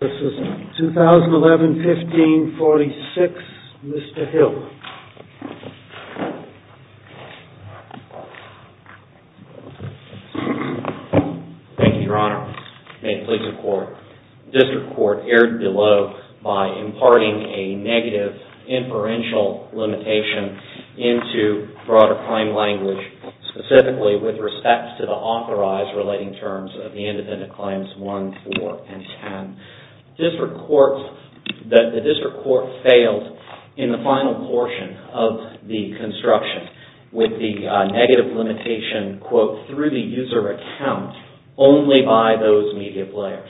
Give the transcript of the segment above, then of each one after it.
This is 2011-15-46. Mr. Hill. Thank you, Your Honor. May it please the Court. The District Court erred below by imparting a negative inferential limitation into broader crime language, specifically with respect to the authorized relating terms of the independent claims 1, 4, and 10. The District Court failed in the final portion of the construction with the negative limitation quote, through the user account only by those media players.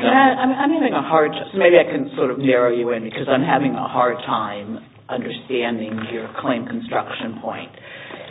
I'm having a hard time. Maybe I can sort of narrow you in because I'm having a hard time understanding your claim construction point.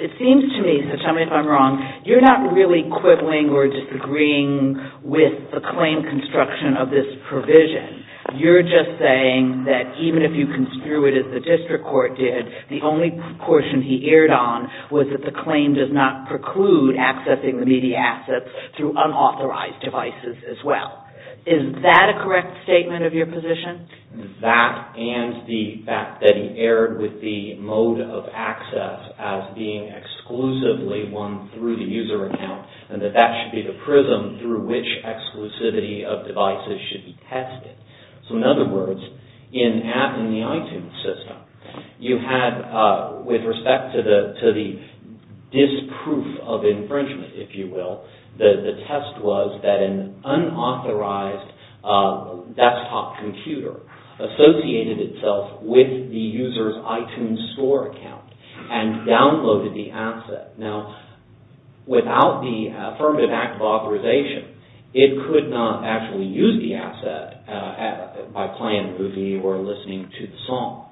It seems to me, so tell me if I'm wrong, you're not really quibbling or disagreeing with the claim construction of this provision. You're just saying that even if you construe it as the District Court did, the only portion he erred on was that the claim does not preclude accessing the media assets through unauthorized devices as well. Is that a correct statement of your position? That and the fact that he erred with the mode of access as being exclusively one through the user account and that that should be the prism through which exclusivity of devices should be tested. So in other words, in the iTunes system, you had, with respect to the disproof of infringement, if you will, the test was that an unauthorized desktop computer associated itself with the user's iTunes store account and downloaded the asset. Now, without the affirmative act of authorization, it could not actually use the asset by playing a movie or listening to the song.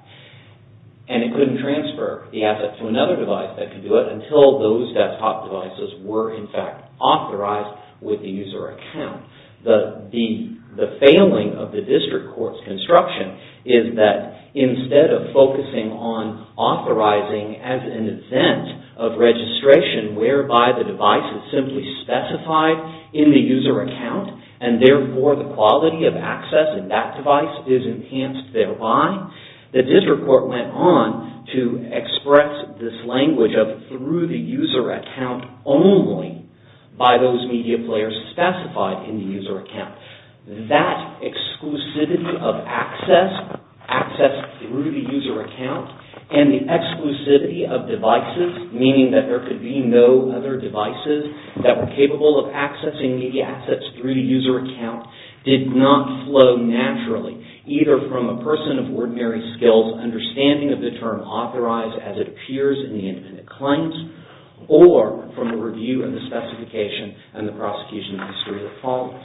And it couldn't transfer the asset to another device that could do it until those desktop devices were in fact authorized with the user account. The failing of the District Court's construction is that instead of focusing on authorizing as an event of registration whereby the device is simply specified in the user account and therefore the quality of access in that device is enhanced thereby, the District Court went on to express this language of through the user account only by those media players specified in the user account. That exclusivity of access, access through the user account, and the exclusivity of devices, meaning that there could be no other devices that were capable of accessing media assets through the user account, did not flow naturally either from a person of ordinary skills understanding of the term authorized as it appears in the independent claims or from a review of the specification and the prosecution of a series of problems.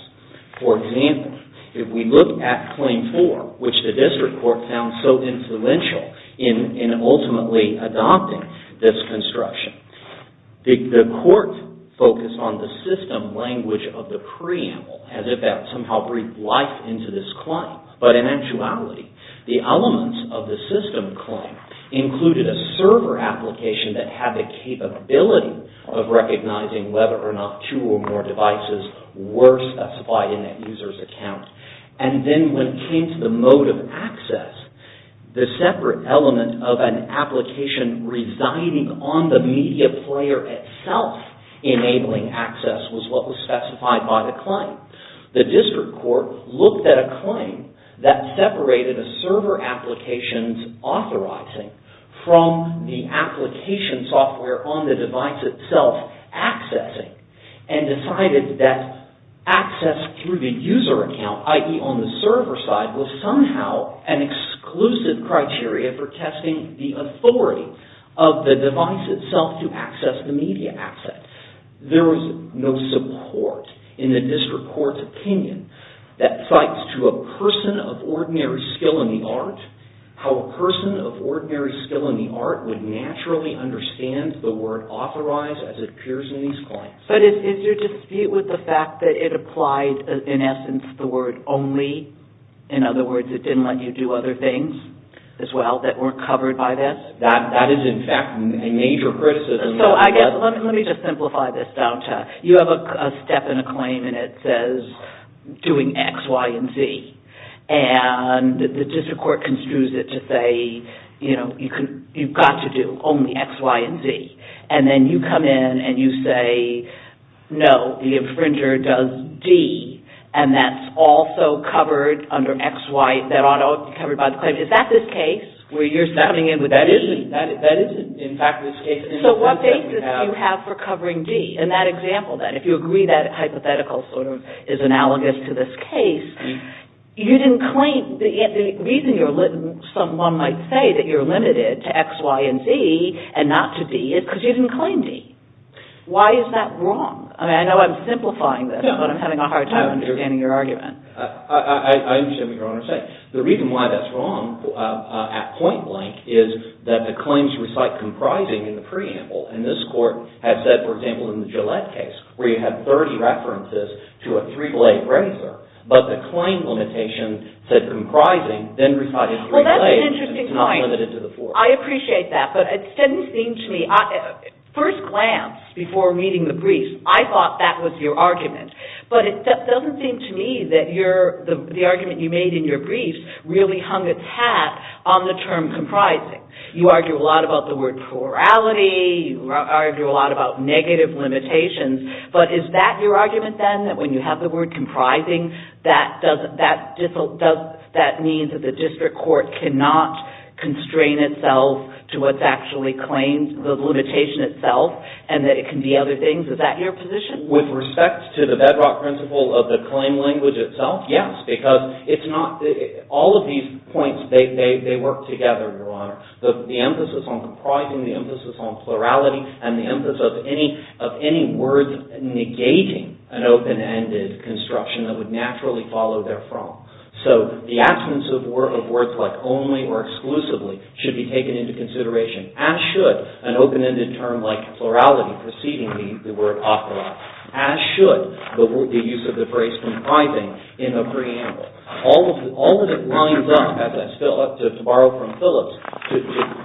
For example, if we look at Claim 4, which the District Court found so influential in ultimately adopting this construction, the Court focused on the system language of the preamble as if that somehow breathed life into this claim. But in actuality, the elements of the system claim included a server application that had the capability of recognizing whether or not two or more devices were specified in that user's account. And then when it came to the mode of access, the separate element of an application residing on the media player itself enabling access was what was specified by the claim. The District Court looked at a claim that separated a server application's authorizing from the application software on the device itself accessing and decided that access through the user account, i.e. on the server side, was somehow an exclusive criteria for testing the authority of the device itself to access the media asset. There was no support in the District Court's opinion that cites to a person of ordinary skill in the art how a person of ordinary skill in the art would naturally understand the word authorize as it appears in these claims. But is your dispute with the fact that it applied, in essence, the word only? In other words, it didn't let you do other things as well that weren't covered by this? That is, in fact, a major criticism. Let me just simplify this down to, you have a step in a claim and it says doing X, Y, and Z. And the District Court construes it to say, you've got to do only X, Y, and Z. And then you come in and you say, no, the infringer does D. And that's also covered under X, Y, that ought to be covered by the claim. Is that this case where you're sounding in with that? That isn't. That isn't, in fact, this case. So what basis do you have for covering D in that example then? If you agree that hypothetical is analogous to this case, the reason someone might say that you're limited to X, Y, and Z and not to D is because you didn't claim D. Why is that wrong? I know I'm simplifying this, but I'm having a hard time understanding your argument. I understand what you're trying to say. The reason why that's wrong at point blank is that the claims recite comprising in the preamble. And this court has said, for example, in the Gillette case, where you have 30 references to a three-blade razor, but the claim limitation said comprising, then recited three blades. Well, that's an interesting point. And it's not limited to the four. I appreciate that. But it doesn't seem to me – first glance, before reading the briefs, I thought that was your argument. But it doesn't seem to me that the argument you made in your briefs really hung its hat on the term comprising. You argue a lot about the word plurality. You argue a lot about negative limitations. But is that your argument, then, that when you have the word comprising, that means that the district court cannot constrain itself to what's actually claimed, the limitation itself, and that it can be other things? Is that your position? With respect to the bedrock principle of the claim language itself, yes. Because it's not – all of these points, they work together, Your Honor. The emphasis on comprising, the emphasis on plurality, and the emphasis of any word negating an open-ended construction that would naturally follow therefrom. So the absence of words like only or exclusively should be taken into consideration, as should an open-ended term like plurality preceding the word operative, as should the use of the phrase comprising in a preamble. All of it lines up, to borrow from Phillips, to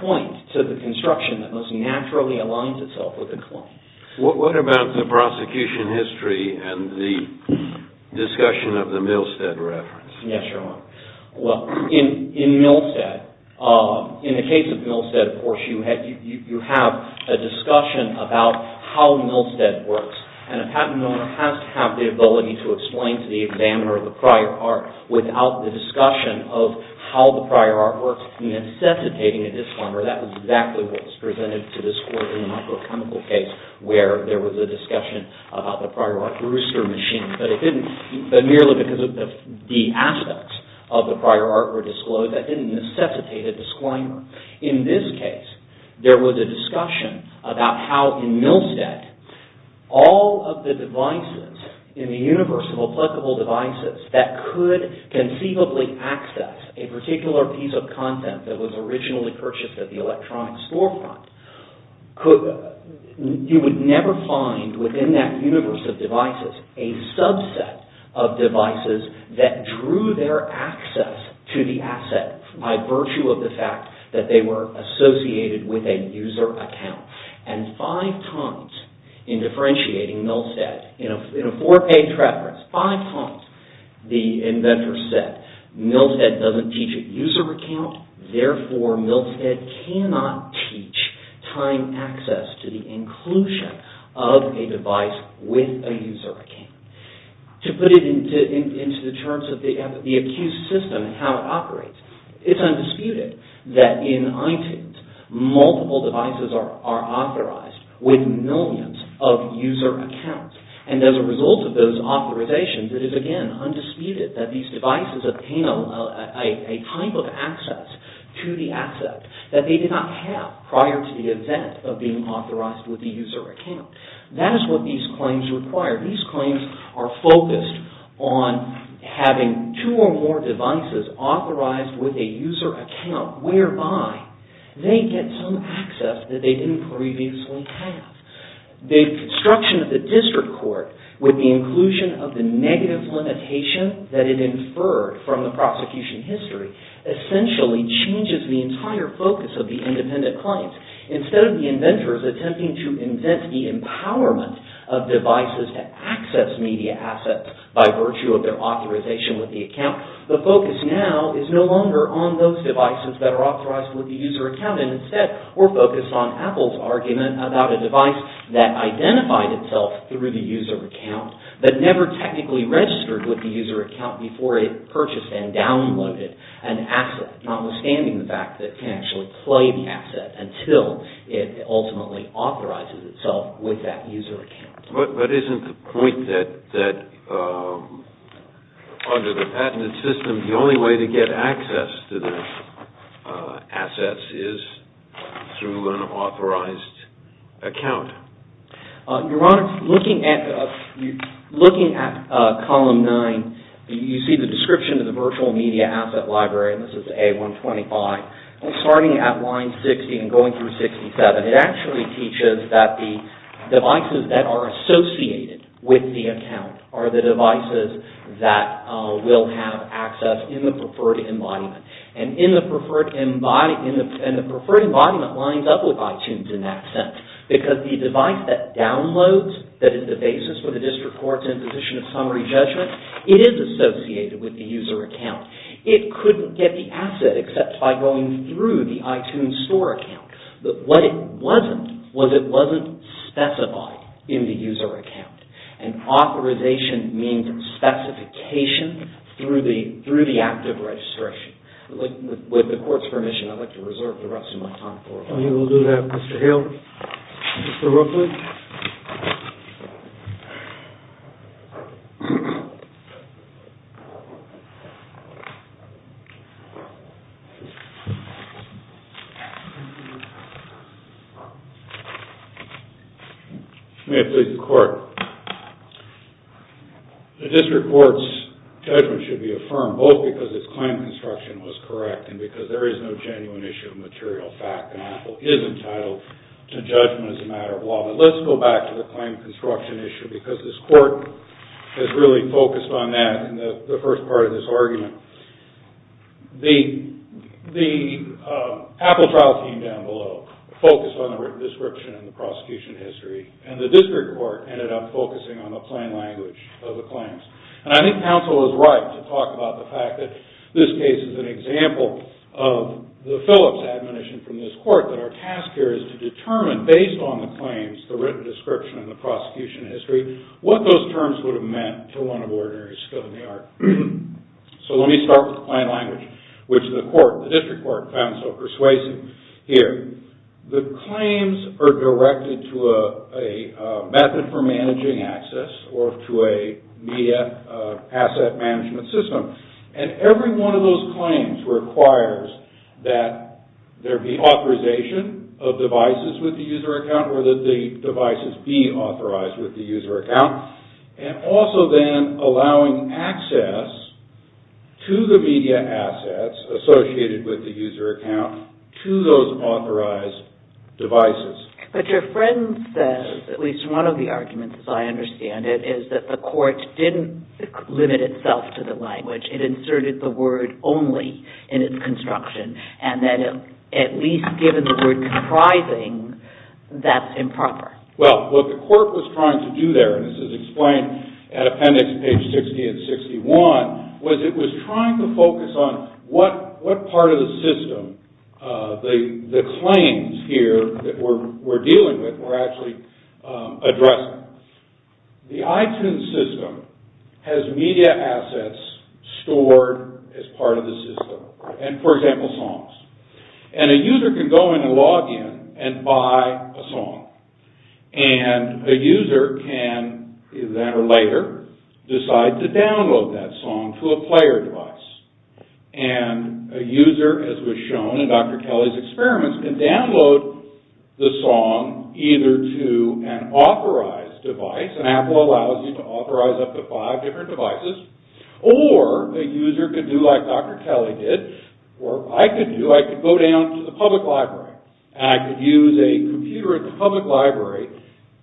point to the construction that most naturally aligns itself with the claim. What about the prosecution history and the discussion of the Milstead reference? Yes, Your Honor. Well, in Milstead, in the case of Milstead, of course, you have a discussion about how Milstead works. And a patent owner has to have the ability to explain to the examiner of the prior art without the discussion of how the prior art works necessitating a disclaimer. That was exactly what was presented to this court in the microchemical case where there was a discussion about the prior art rooster machine. But it didn't – but merely because of the aspects of the prior art were disclosed, that didn't necessitate a disclaimer. In this case, there was a discussion about how in Milstead, all of the devices in the universe of applicable devices that could conceivably access a particular piece of content that was originally purchased at the electronic storefront, you would never find within that universe of devices a subset of devices that drew their access to the asset by virtue of the fact that they were associated with a user account. And five times in differentiating Milstead, in a four-page reference, five times the inventor said Milstead doesn't teach a user account, therefore Milstead cannot teach time access to the inclusion of a device with a user account. To put it into the terms of the accused system and how it operates, it's undisputed that in iTunes, multiple devices are authorized with millions of user accounts. And as a result of those authorizations, it is again undisputed that these devices attain a type of access to the asset that they did not have prior to the event of being authorized with the user account. That is what these claims require. These claims are focused on having two or more devices authorized with a user account whereby they get some access that they didn't previously have. The construction of the district court with the inclusion of the negative limitation that it inferred from the prosecution history essentially changes the entire focus of the independent claims. Instead of the inventors attempting to invent the empowerment of devices to access media assets by virtue of their authorization with the account, the focus now is no longer on those devices that are authorized with the user account. Instead, we're focused on Apple's argument about a device that identified itself through the user account but never technically registered with the user account before it purchased and downloaded an asset, notwithstanding the fact that it can actually play the asset until it ultimately authorizes itself with that user account. But isn't the point that under the patented system, the only way to get access to the assets is through an authorized account? Your Honor, looking at column nine, you see the description of the virtual media asset library. This is A125. Starting at line 60 and going through 67, it actually teaches that the devices that are associated with the account are the devices that will have access in the preferred embodiment. And the preferred embodiment lines up with iTunes in that sense because the device that downloads, that is the basis for the district court's imposition of summary judgment, it is associated with the user account. It couldn't get the asset except by going through the iTunes store account. But what it wasn't was it wasn't specified in the user account. And authorization means specification through the active registration. With the court's permission, I'd like to reserve the rest of my time. We will do that. Mr. Hill? Mr. Rookwood? May it please the court. The district court's judgment should be affirmed both because its claim construction was correct and because there is no genuine issue of material fact and Apple is entitled to judgment as a matter of law. Let's go back to the claim construction issue because this court has really focused on that in the first part of this argument. The Apple trial team down below focused on the written description and the prosecution history and the district court ended up focusing on the plain language of the claims. And I think counsel is right to talk about the fact that this case is an example of the Phillips admonition from this court that our task here is to determine based on the claims, the written description and the prosecution history, what those terms would have meant to one of the ordinaries still in the art. So let me start with plain language, which the court, the district court, found so persuasive here. The claims are directed to a method for managing access or to a media asset management system. And every one of those claims requires that there be authorization of devices with the user account or that the devices be authorized with the user account and also then allowing access to the media assets associated with the user account to those authorized devices. But your friend says, at least one of the arguments as I understand it, is that the court didn't limit itself to the language. It inserted the word only in its construction and that at least given the word comprising, that's improper. Well, what the court was trying to do there, and this is explained at appendix page 60 and 61, was it was trying to focus on what part of the system the claims here that we're dealing with were actually addressing. The iTunes system has media assets stored as part of the system, and for example, songs. And a user can go in and log in and buy a song, and a user can then or later decide to download that song to a player device. And a user, as was shown in Dr. Kelly's experiments, can download the song either to an authorized device, and Apple allows you to authorize up to five different devices, or a user could do like Dr. Kelly did, or I could do, I could go down to the public library and I could use a computer at the public library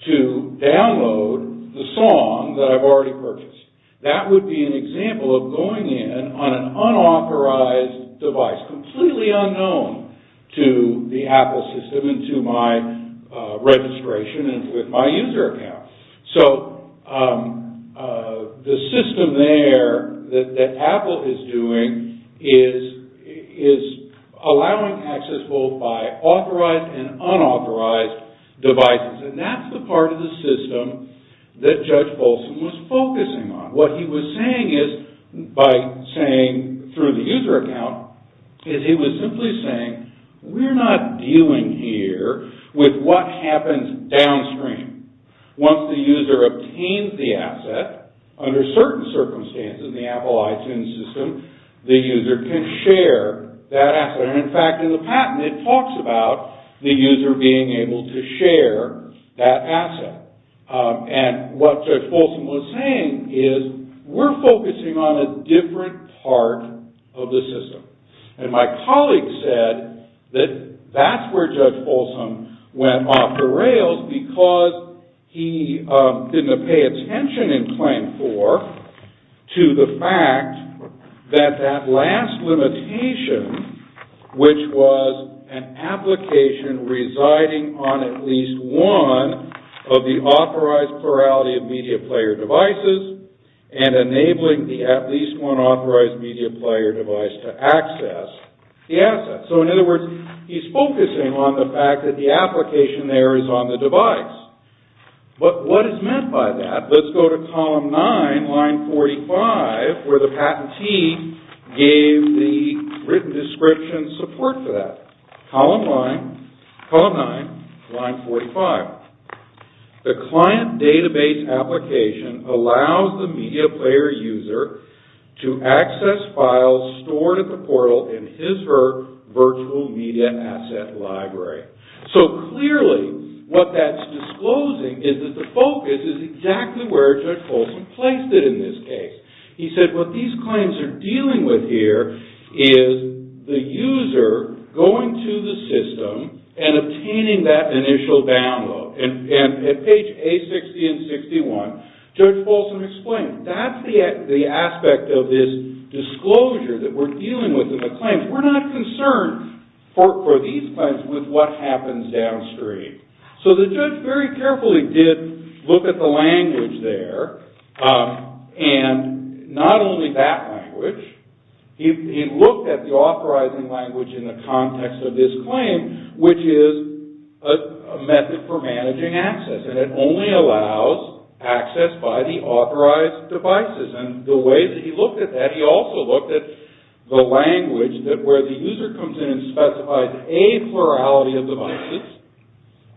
to download the song that I've already purchased. That would be an example of going in on an unauthorized device, completely unknown to the Apple system and to my registration and with my user account. So, the system there that Apple is doing is allowing access both by authorized and unauthorized devices, and that's the part of the system that Judge Bolson was focusing on. What he was saying is, by saying through the user account, is he was simply saying, we're not dealing here with what happens downstream. Once the user obtains the asset, under certain circumstances in the Apple iTunes system, the user can share that asset. And in fact, in the patent, it talks about the user being able to share that asset. And what Judge Bolson was saying is, we're focusing on a different part of the system. And my colleague said that that's where Judge Bolson went off the rails, because he didn't pay attention in Claim 4 to the fact that that last limitation, which was an application residing on at least one of the authorized plurality of media player devices and enabling the at least one authorized media player device to access the asset. So, in other words, he's focusing on the fact that the application there is on the device. But what is meant by that? Let's go to column 9, line 45, where the patentee gave the written description support for that. Column 9, line 45. The client database application allows the media player user to access files stored at the portal in his or her virtual media asset library. So, clearly, what that's disclosing is that the focus is exactly where Judge Bolson placed it in this case. He said, what these claims are dealing with here is the user going to the system and obtaining that initial download. And at page A60 and 61, Judge Bolson explained, that's the aspect of this disclosure that we're dealing with in the claims. We're not concerned for these claims with what happens downstream. So, the judge very carefully did look at the language there. And not only that language, he looked at the authorizing language in the context of this claim, which is a method for managing access. And it only allows access by the authorized devices. And the way that he looked at that, he also looked at the language that where the user comes in and specifies a plurality of devices,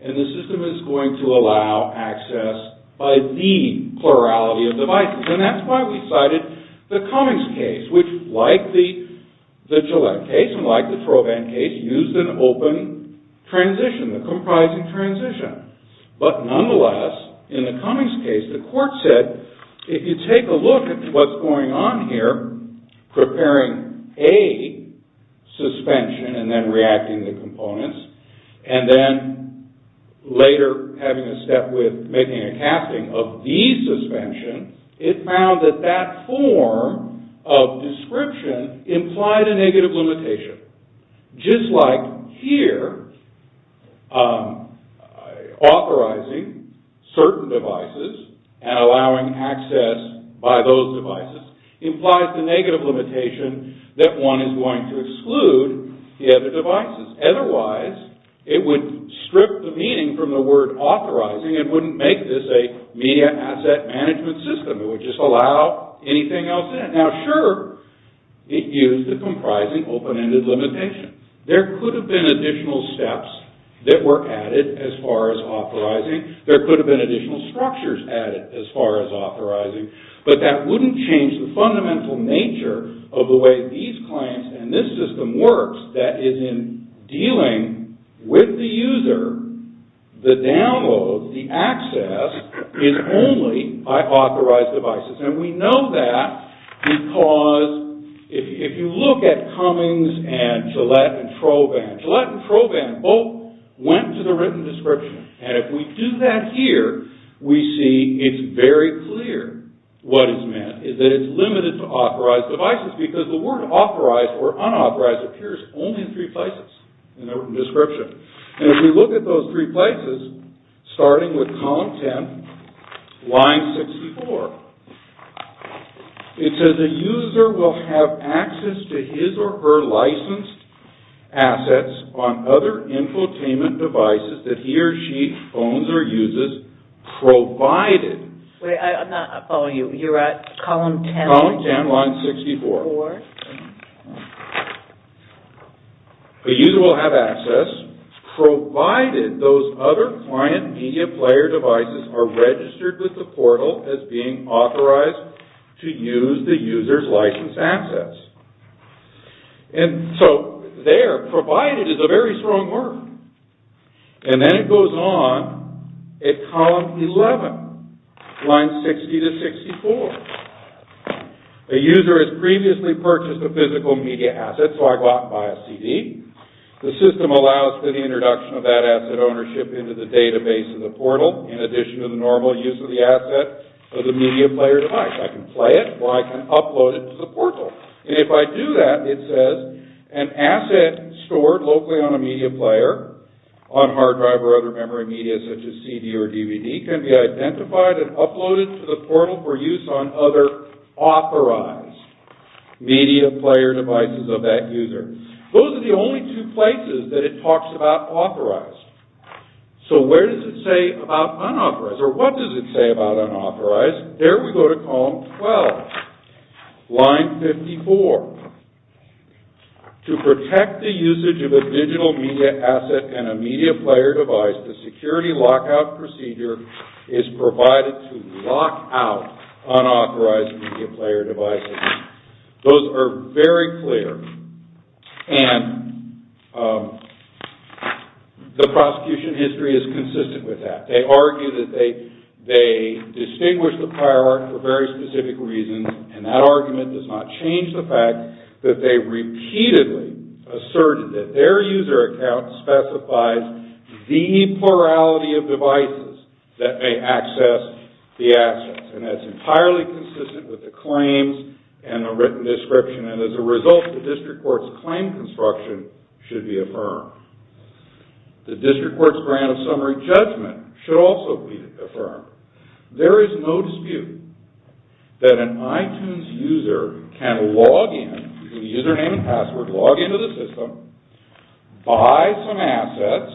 and the system is going to allow access by the plurality of devices. And that's why we cited the Cummings case, which, like the Gillette case and like the Trovan case, used an open transition, a comprising transition. But nonetheless, in the Cummings case, the court said, if you take a look at what's going on here, preparing a suspension and then reacting the components, and then later having a step with making a casting of the suspension, it found that that form of description implied a negative limitation. Just like here, authorizing certain devices and allowing access by those devices implies the negative limitation that one is going to exclude the other devices. Otherwise, it would strip the meaning from the word authorizing and wouldn't make this a media asset management system. It would just allow anything else in. Now, sure, it used the comprising open-ended limitation. There could have been additional steps that were added as far as authorizing. There could have been additional structures added as far as authorizing. But that wouldn't change the fundamental nature of the way these claims and this system works that is in dealing with the user. The download, the access, is only by authorized devices. And we know that because if you look at Cummings and Gillette and Trovan, Gillette and Trovan both went to the written description. And if we do that here, we see it's very clear what is meant is that it's limited to authorized devices because the word authorized or unauthorized appears only in three places in the written description. And if we look at those three places, starting with column 10, line 64, it says a user will have access to his or her licensed assets on other infotainment devices that he or she owns or uses provided. Wait, I'm not following you. You're at column 10. Column 10, line 64. A user will have access provided those other client media player devices are registered with the portal as being authorized to use the user's licensed assets. And so there, provided is a very strong word. And then it goes on at column 11, line 60 to 64. A user has previously purchased a physical media asset, so I go out and buy a CD. The system allows for the introduction of that asset ownership into the database of the portal in addition to the normal use of the asset for the media player device. I can play it or I can upload it to the portal. And if I do that, it says an asset stored locally on a media player, on hard drive or other memory media such as CD or DVD, can be identified and uploaded to the portal for use on other authorized media player devices of that user. Those are the only two places that it talks about authorized. So where does it say about unauthorized? Or what does it say about unauthorized? Yes, there we go to column 12, line 54. To protect the usage of a digital media asset and a media player device, the security lockout procedure is provided to lock out unauthorized media player devices. Those are very clear. And the prosecution history is consistent with that. They argue that they distinguish the prior art for very specific reasons. And that argument does not change the fact that they repeatedly asserted that their user account specifies the plurality of devices that may access the assets. And that's entirely consistent with the claims and the written description. And as a result, the district court's claim construction should be affirmed. The district court's grant of summary judgment should also be affirmed. There is no dispute that an iTunes user can log in with a username and password, log into the system, buy some assets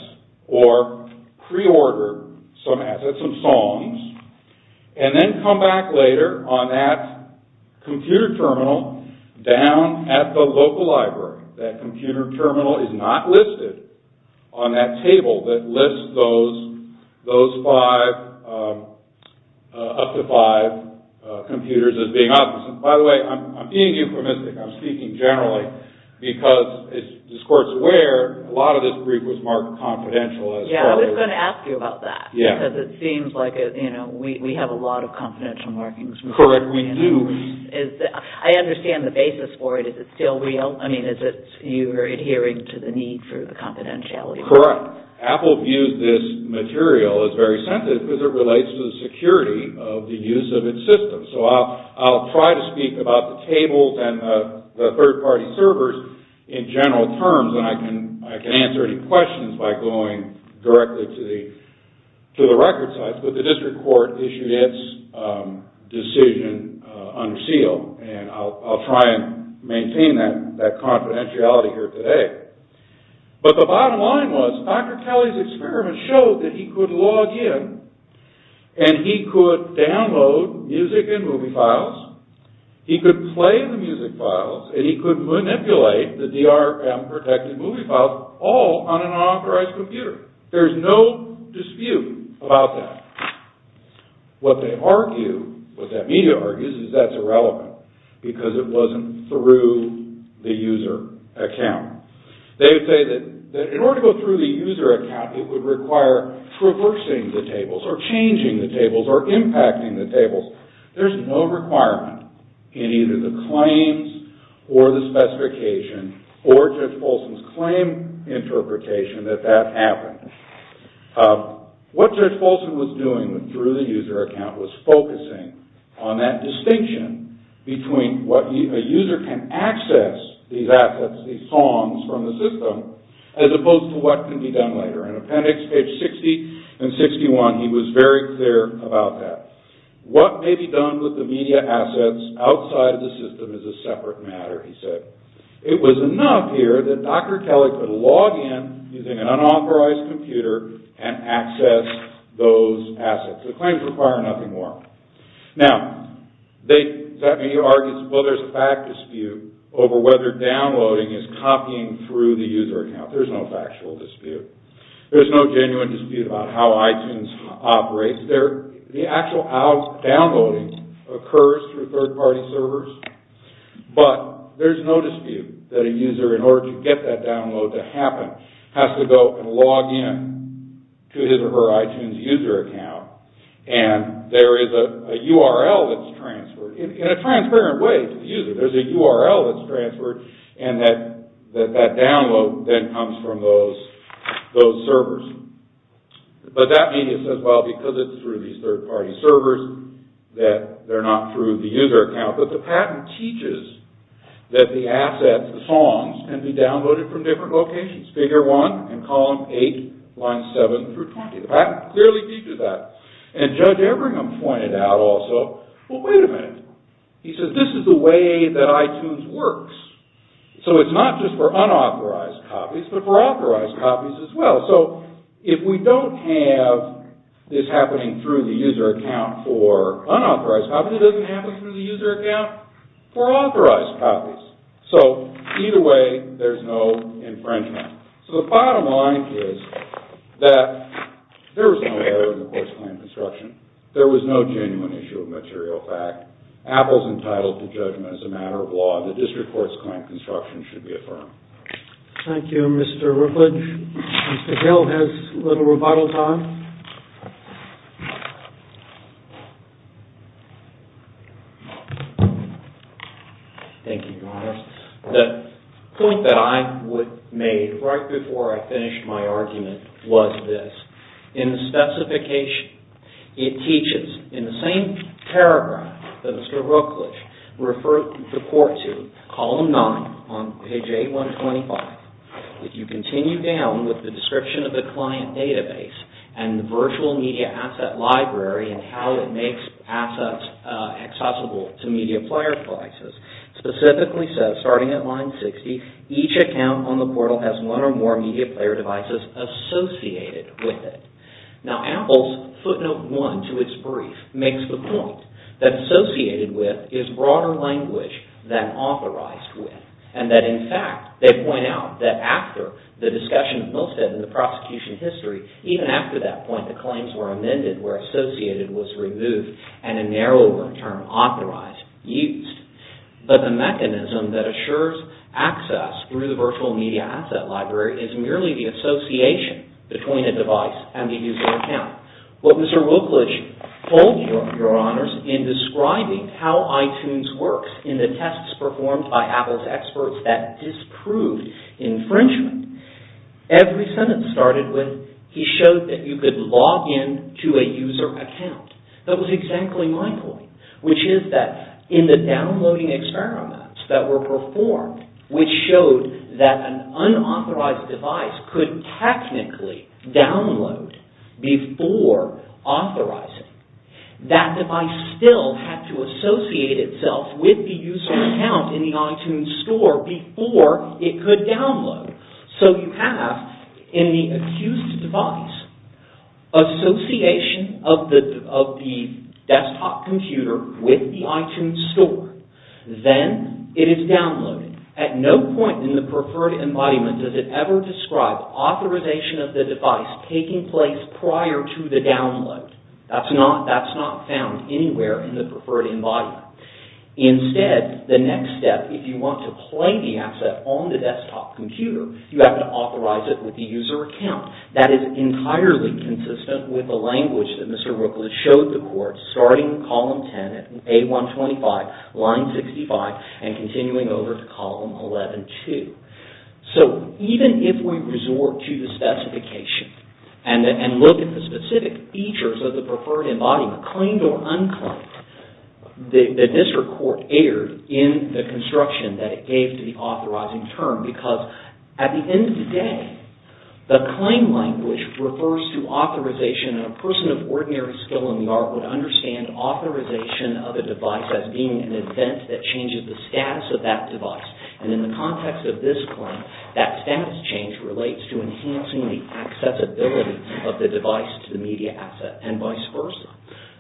or preorder some assets, some songs, and then come back later on that computer terminal down at the local library. That computer terminal is not listed on that table that lists those five, up to five computers as being unauthorized. By the way, I'm being euphemistic. I'm speaking generally because as the court's aware, a lot of this brief was marked confidential. Yeah, I was going to ask you about that because it seems like we have a lot of confidential markings. Correct, we do. I understand the basis for it. Is it still real? I mean, is it you are adhering to the need for the confidentiality? Correct. Apple views this material as very sensitive because it relates to the security of the use of its system. So I'll try to speak about the tables and the third-party servers in general terms, and I can answer any questions by going directly to the record sites. But the district court issued its decision unsealed. And I'll try and maintain that confidentiality here today. But the bottom line was Dr. Kelly's experiment showed that he could log in and he could download music and movie files, he could play the music files, and he could manipulate the DRM-protected movie files all on an unauthorized computer. There's no dispute about that. What they argue, what that media argues, is that's irrelevant because it wasn't through the user account. They would say that in order to go through the user account, it would require traversing the tables or changing the tables or impacting the tables. There's no requirement in either the claims or the specification or Judge Folsom's claim interpretation that that happened. What Judge Folsom was doing through the user account was focusing on that distinction between what a user can access, these assets, these songs from the system, as opposed to what can be done later. In appendix page 60 and 61, he was very clear about that. What may be done with the media assets outside the system is a separate matter, he said. It was enough here that Dr. Kelly could log in using an unauthorized computer and access those assets. The claims require nothing more. Now, that media argues, well, there's a fact dispute over whether downloading is copying through the user account. There's no factual dispute. There's no genuine dispute about how iTunes operates. The actual downloading occurs through third-party servers, but there's no dispute that a user, in order to get that download to happen, has to go and log in to his or her iTunes user account, and there is a URL that's transferred in a transparent way to the user. There's a URL that's transferred, and that download then comes from those servers. But that media says, well, because it's through these third-party servers, that they're not through the user account, but the patent teaches that the assets, the songs, can be downloaded from different locations, Figure 1 and Column 8, Lines 7 through 20. The patent clearly teaches that. And Judge Ebringham pointed out also, well, wait a minute. He said, this is the way that iTunes works. So it's not just for unauthorized copies, but for authorized copies as well. So if we don't have this happening through the user account for unauthorized copies, it doesn't happen through the user account for authorized copies. So either way, there's no infringement. So the bottom line is that there was no error in the course claim construction. There was no genuine issue of material fact. Apple's entitled to judgment as a matter of law. The district court's claim construction should be affirmed. Thank you, Mr. Rookledge. Mr. Hill has a little rebuttal time. Thank you, Your Honor. The point that I would make right before I finish my argument was this. In the specification, it teaches in the same paragraph that Mr. Rookledge referred the court to, column 9 on page 8125. If you continue down with the description of the client database and the virtual media asset library and how it makes assets accessible to media player devices, specifically says, starting at line 60, each account on the portal has one or more media player devices associated with it. Now, Apple's footnote 1 to its brief makes the point that associated with is broader language than authorized with. And that in fact, they point out that after the discussion of Milstead in the prosecution history, even after that point, the claims were amended where associated was removed and a narrower term, authorized, used. But the mechanism that assures access through the virtual media asset library is merely the association between a device and the user account. What Mr. Rookledge told Your Honors in describing how iTunes works in the tests performed by Apple's experts that disproved infringement, every sentence started with, he showed that you could log in to a user account. That was exactly my point, which is that in the downloading experiments that were performed, which showed that an unauthorized device could technically download before authorizing, that device still had to associate itself with the user account in the iTunes store before it could download. So you have in the accused device, association of the desktop computer with the iTunes store. Then it is downloaded. At no point in the preferred embodiment does it ever describe authorization of the device taking place prior to the download. That's not found anywhere in the preferred embodiment. Instead, the next step, if you want to play the asset on the desktop computer, you have to authorize it with the user account. That is entirely consistent with the language that Mr. Rookledge showed the court starting column 10, A125, line 65, and continuing over to column 11-2. So even if we resort to the specification and look at the specific features of the preferred embodiment, claimed or unclaimed, the district court erred in the construction that it gave to the authorizing term because at the end of the day, the claim language refers to authorization and a person of ordinary skill in the art would understand authorization of a device as being an event that changes the status of that device. In the context of this claim, that status change relates to enhancing the accessibility of the device to the media asset and vice versa.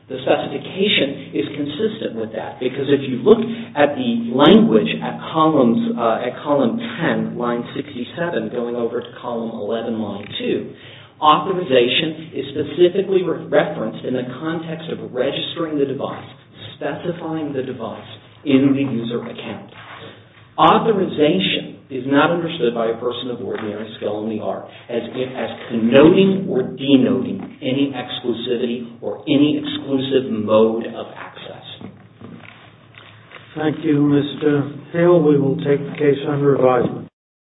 The specification is consistent with that because if you look at the language at column 10, line 67, going over to column 11, line 2, authorization is specifically referenced in the context of registering the device, specifying the device in the user account. Authorization is not understood by a person of ordinary skill in the art as connoting or denoting any exclusivity or any exclusive mode of access. Thank you, Mr. Hale. We will take the case under advisement.